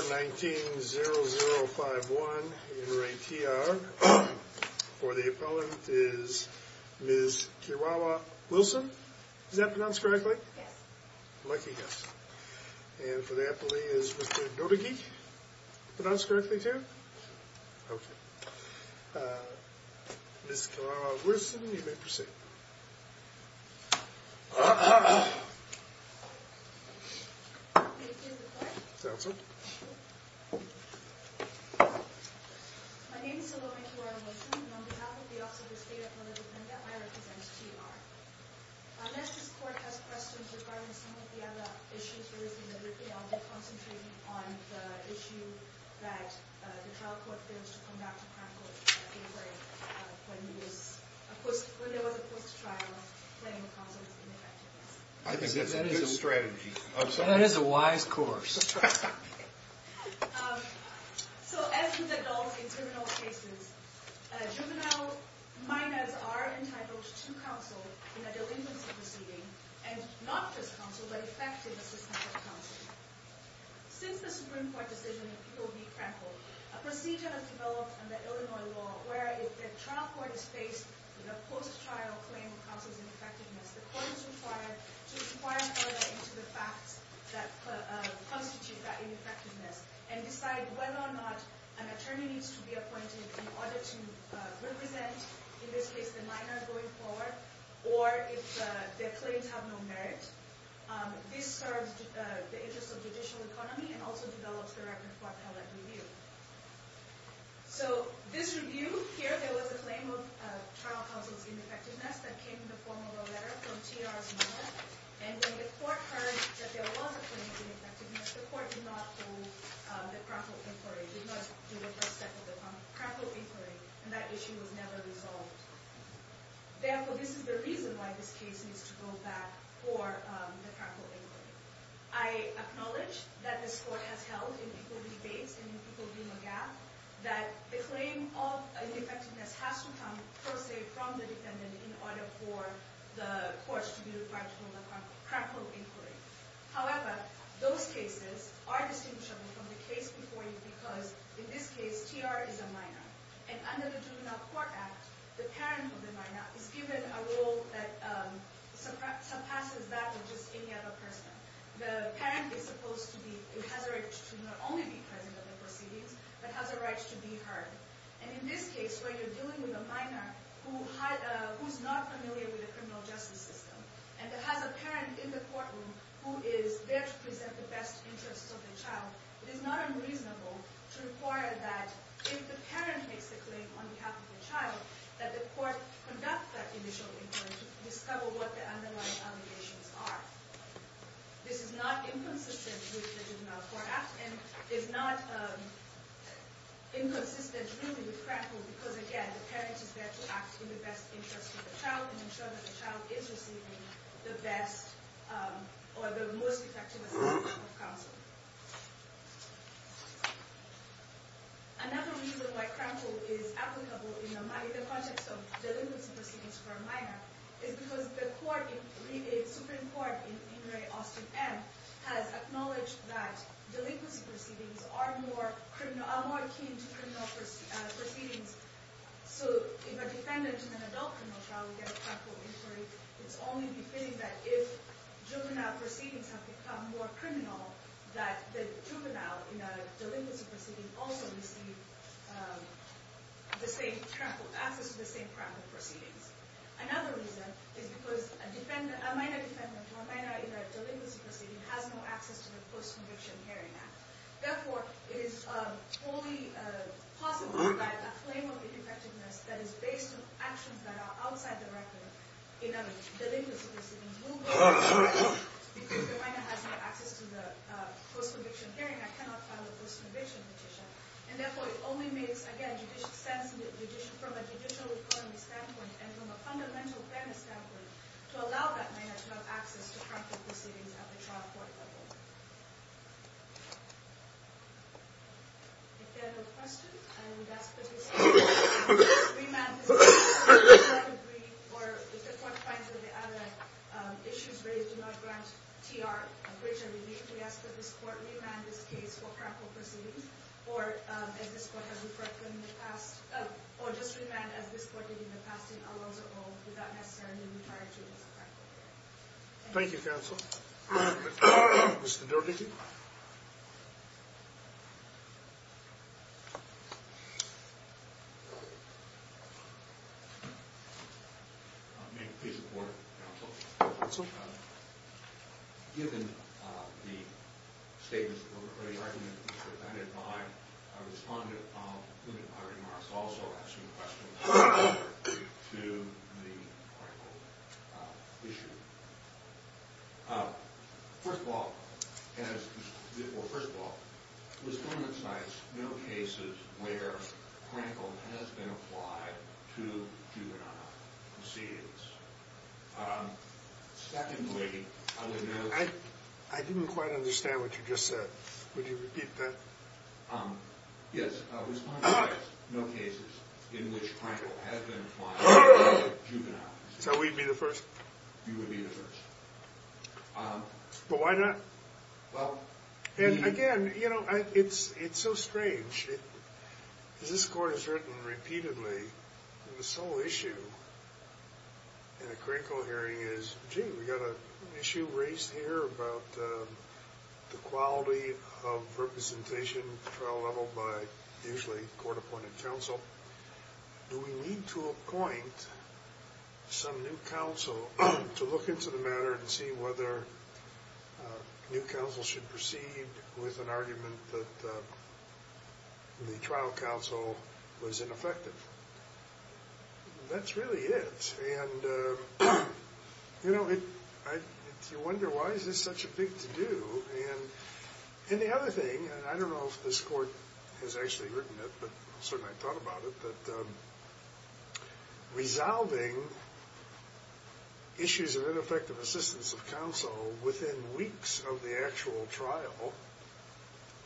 19-0-0-5-1. In re T.R. for the appellant is Ms. Kiwawa-Wilson. Is that pronounced correctly? Yes. Lucky guess. And for the appellee is Mr. Nodigeek. Pronounced correctly too? Okay. Ms. Kiwawa-Wilson, you may proceed. My name is Salome Kiwawa-Wilson, and on behalf of the Office of the State Appellant Defender, I represent T.R. Unless this Court has questions regarding some of the other issues, we'll be concentrating on the issue that the trial court failed to come back to practical effect when there was a post-trial planning of counsel's ineffectiveness. I think that's a good strategy. That is a wise course. So, as with adults in criminal cases, juvenile minors are entitled to counsel in a delinquency proceeding, and not just counsel, but effective assistance of counsel. Since the Supreme Court decision in Peel v. Frankel, a procedure has developed under Illinois law where if the trial court is faced with a post-trial claim of counsel's ineffectiveness, the court is required to inquire further into the facts that constitute that ineffectiveness and decide whether or not an attorney needs to be appointed in order to represent, in this case, the minor going forward, or if their claims have no merit. This serves the interests of judicial economy and also develops the record for appellate review. So, this review, here, there was a claim of trial counsel's ineffectiveness that came in the form of a letter from T.R.'s mother, and when the court heard that there was a claim of ineffectiveness, the court did not hold the Frankel inquiry, did not do the first step of the Frankel inquiry, and that issue was never resolved. Therefore, this is the reason why this case needs to go back for the Frankel inquiry. I acknowledge that this court has held in Peel v. Bates and in Peel v. McGaff that the claim of ineffectiveness has to come, per se, from the defendant in order for the courts to be required to hold the Frankel inquiry. However, those cases are distinguishable from the case before you because, in this case, T.R. is a minor, and under the Juvenile Court Act, the parent of the minor is given a role that surpasses that of just any other person. The parent is supposed to be in hazard to not only be present at the proceedings, but has a right to be heard. And in this case, where you're dealing with a minor who's not familiar with the criminal justice system and has a parent in the courtroom who is there to present the best interests of the child, it is not unreasonable to require that, if the parent makes the claim on behalf of the child, that the court conduct that initial inquiry to discover what the underlying allegations are. This is not inconsistent with the Juvenile Court Act and is not inconsistent, really, with Frankel because, again, the parent is there to act in the best interest of the child and ensure that the child is receiving the best or the most effective assessment of counsel. Another reason why Frankel is applicable in the context of delinquency proceedings for a minor is because the Supreme Court in Henry Austin M. has acknowledged that delinquency proceedings are more akin to criminal proceedings. So if a defendant is an adult criminal trial, we get a Frankel inquiry. It's only befitting that if juvenile proceedings have become more criminal, that the juvenile in a delinquency proceeding also receive access to the same Frankel proceedings. Another reason is because a minor defendant or minor in a delinquency proceeding has no access to the Post-Conviction Hearing Act. Therefore, it is only possible that a claim of ineffectiveness that is based on actions that are outside the record in a delinquency proceeding will go to trial because the minor has no access to the Post-Conviction Hearing Act, cannot file a Post-Conviction Petition. And therefore, it only makes, again, sense from a judicial reporting standpoint and from a fundamental fairness standpoint to allow that minor to have access to Frankel proceedings at the trial court level. If there are no questions, I would ask that this Court remand this case for Frankel proceedings, or if the Court finds that the other issues raised do not grant TR a greater relief, we ask that this Court remand this case for Frankel proceedings, or as this Court has referred to in the past, or just remand as this Court did in the past in Alonzo Hall, without necessarily referring to this Frankel hearing. Thank you, Counsel. Mr. Derbyshire? May it please the Court, Counsel? Counsel? Given the statements that were previously presented by a respondent of whom I remarked also asking questions to the Frankel issue, first of all, as, well, first of all, this document cites no cases where Frankel has been applied to juvenile proceedings. Secondly, other than those… I didn't quite understand what you just said. Would you repeat that? Yes. Respondent asked, no cases in which Frankel has been applied to juvenile proceedings. So we'd be the first? You would be the first. But why not? Well… And, again, you know, it's so strange. As this Court has written repeatedly, the sole issue in a Frankel hearing is, gee, we've got an issue raised here about the quality of representation at trial level by usually court-appointed counsel. Do we need to appoint some new counsel to look into the matter and see whether new counsel should proceed with an argument that the trial counsel was ineffective? That's really it. And, you know, you wonder, why is this such a big to-do? And the other thing, and I don't know if this Court has actually written it, but certainly I've thought about it, but resolving issues of ineffective assistance of counsel within weeks of the actual trial,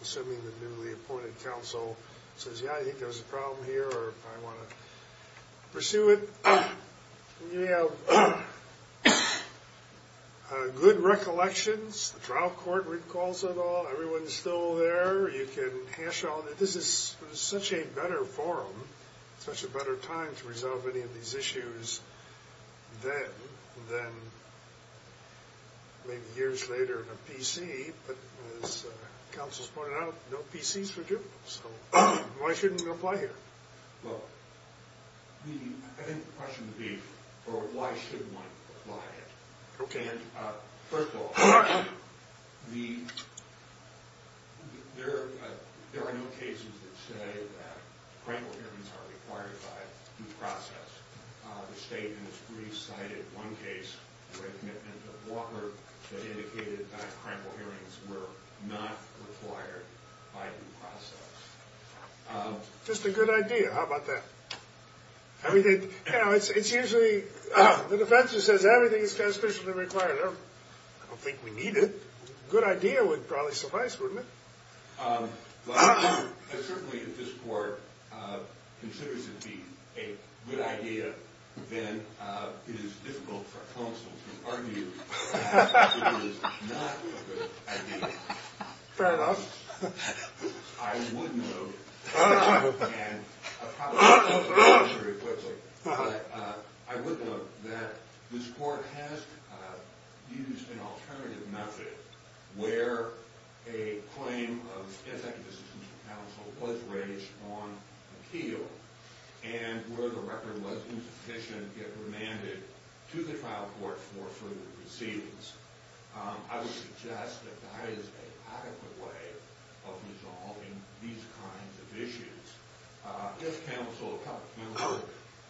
assuming the newly appointed counsel says, yeah, I think there's a problem here or I want to pursue it. You have good recollections. The trial court recalls it all. Everyone's still there. You can hash on it. But this is such a better forum, such a better time to resolve any of these issues then than maybe years later in a PC. But as counsel's pointed out, no PC is forgivable. So why shouldn't we apply here? Well, I think the question would be, well, why should one apply it? Okay. First of all, there are no cases that say that crample hearings are required by due process. The state has recited one case where the commitment of Walker that indicated that crample hearings were not required by due process. Just a good idea. How about that? I mean, it's usually the defense that says everything is conspicuously required. I don't think we need it. A good idea would probably suffice, wouldn't it? Well, certainly if this court considers it to be a good idea, then it is difficult for counsel to argue that it is not a good idea. Fair enough. I would note that this court has used an alternative method where a claim of executive decision to counsel was raised on appeal and where the record was insufficient yet remanded to the trial court for further proceedings. I would suggest that that is an adequate way of resolving these kinds of issues. If counsel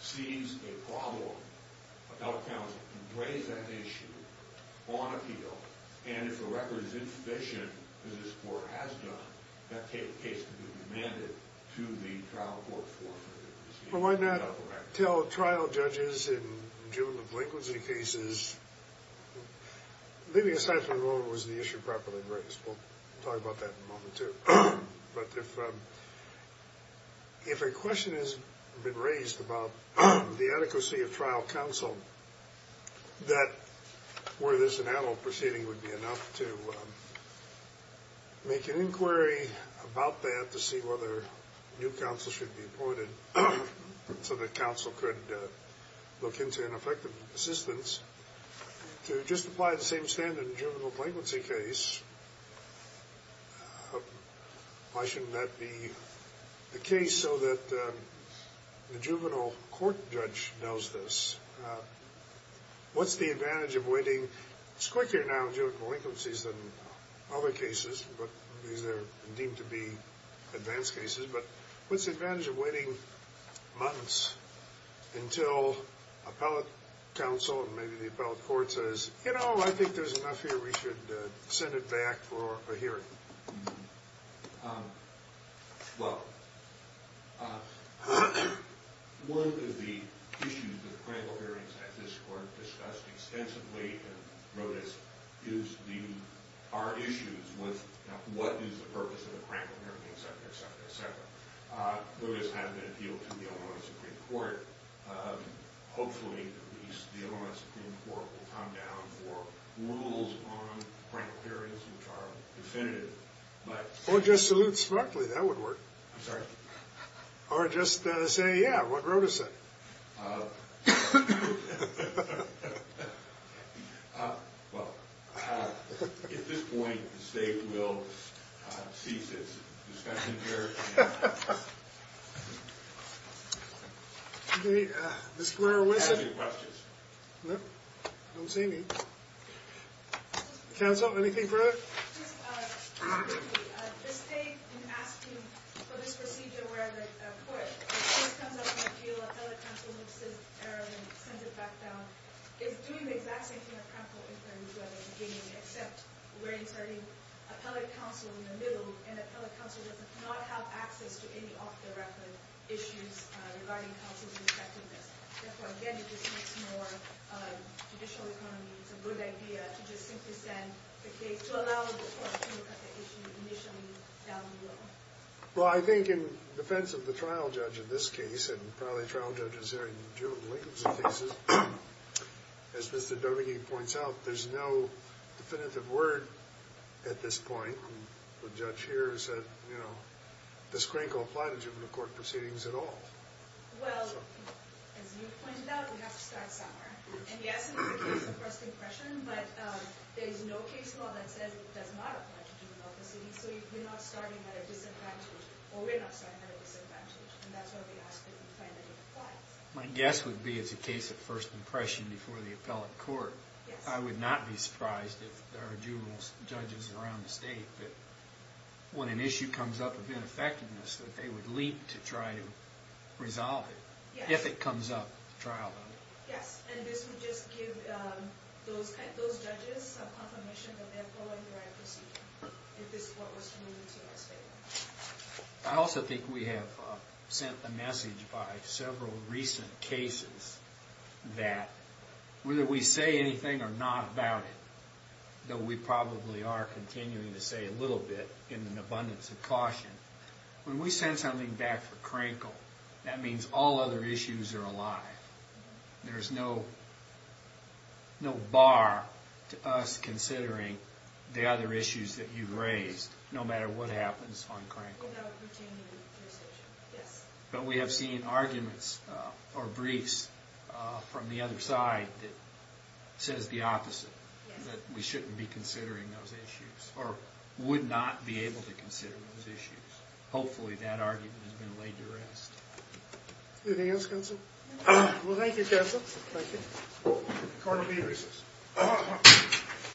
sees a problem, our counsel can raise that issue on appeal, and if the record is insufficient, as this court has done, that case can be remanded to the trial court for further proceedings. Why not tell trial judges in juvenile delinquency cases, leaving aside what was the issue properly raised? We'll talk about that in a moment, too. But if a question has been raised about the adequacy of trial counsel, that where there's an adult proceeding would be enough to make an inquiry about that to see whether new counsel should be appointed so that counsel could look into an effective assistance. To just apply the same standard in a juvenile delinquency case, why shouldn't that be the case so that the juvenile court judge knows this? What's the advantage of waiting? It's quicker now in juvenile delinquencies than other cases because they're deemed to be advanced cases, but what's the advantage of waiting months until appellate counsel and maybe the appellate court says, you know, I think there's enough here, we should send it back for a hearing? Well, one of the issues that the Crankle hearings at this court discussed extensively, and Rodas gives our issues with what is the purpose of the Crankle hearings, et cetera, et cetera, et cetera. Rodas has an appeal to the Illinois Supreme Court. Hopefully the Illinois Supreme Court will come down for rules on Crankle hearings which are definitive. Or just salute smartly, that would work. I'm sorry? Or just say, yeah, what Rodas said. Well, at this point, the state will cease its discussion here. Mr. Mayor, what is it? Do you have any questions? No, I don't see any. Counsel, anything further? Just briefly, the state has been asking for this procedure where the court comes up with an appeal, appellate counsel looks at it thoroughly and sends it back down. It's doing the exact same thing at Crankle, except we're inserting appellate counsel in the middle, and appellate counsel does not have access to any off-the-record issues regarding counsel's effectiveness. Therefore, again, it just makes more judicial economy. It's a good idea to just simply send the case to allow the court to look at the issue initially down the road. Well, I think in defense of the trial judge in this case, and probably trial judges there in juvenile delinquency cases, as Mr. Domingue points out, there's no definitive word at this point. The judge here said, you know, does Crankle apply to juvenile court proceedings at all? Well, as you pointed out, we have to start somewhere. And yes, in the case of first impression, but there is no case law that says it does not apply to juvenile proceedings. So we're not starting at a disadvantage, or we're not starting at a disadvantage, and that's why we ask that you find that it applies. My guess would be it's a case of first impression before the appellate court. I would not be surprised if there are juvenile judges around the state that when an issue comes up of ineffectiveness, that they would leap to try to resolve it. If it comes up, trial them. Yes, and this would just give those judges some confirmation that they're following the right procedure, if this is what was alluded to in the statement. I also think we have sent the message by several recent cases that whether we say anything or not about it, though we probably are continuing to say a little bit in an abundance of caution, when we send something back for crankle, that means all other issues are alive. There's no bar to us considering the other issues that you've raised, no matter what happens on crankle. Without continuing the procedure, yes. But we have seen arguments or briefs from the other side that says the opposite, that we shouldn't be considering those issues or would not be able to consider those issues. Hopefully that argument has been laid to rest. Anything else, counsel? Well, thank you, counsel. Thank you. The court will be in recess.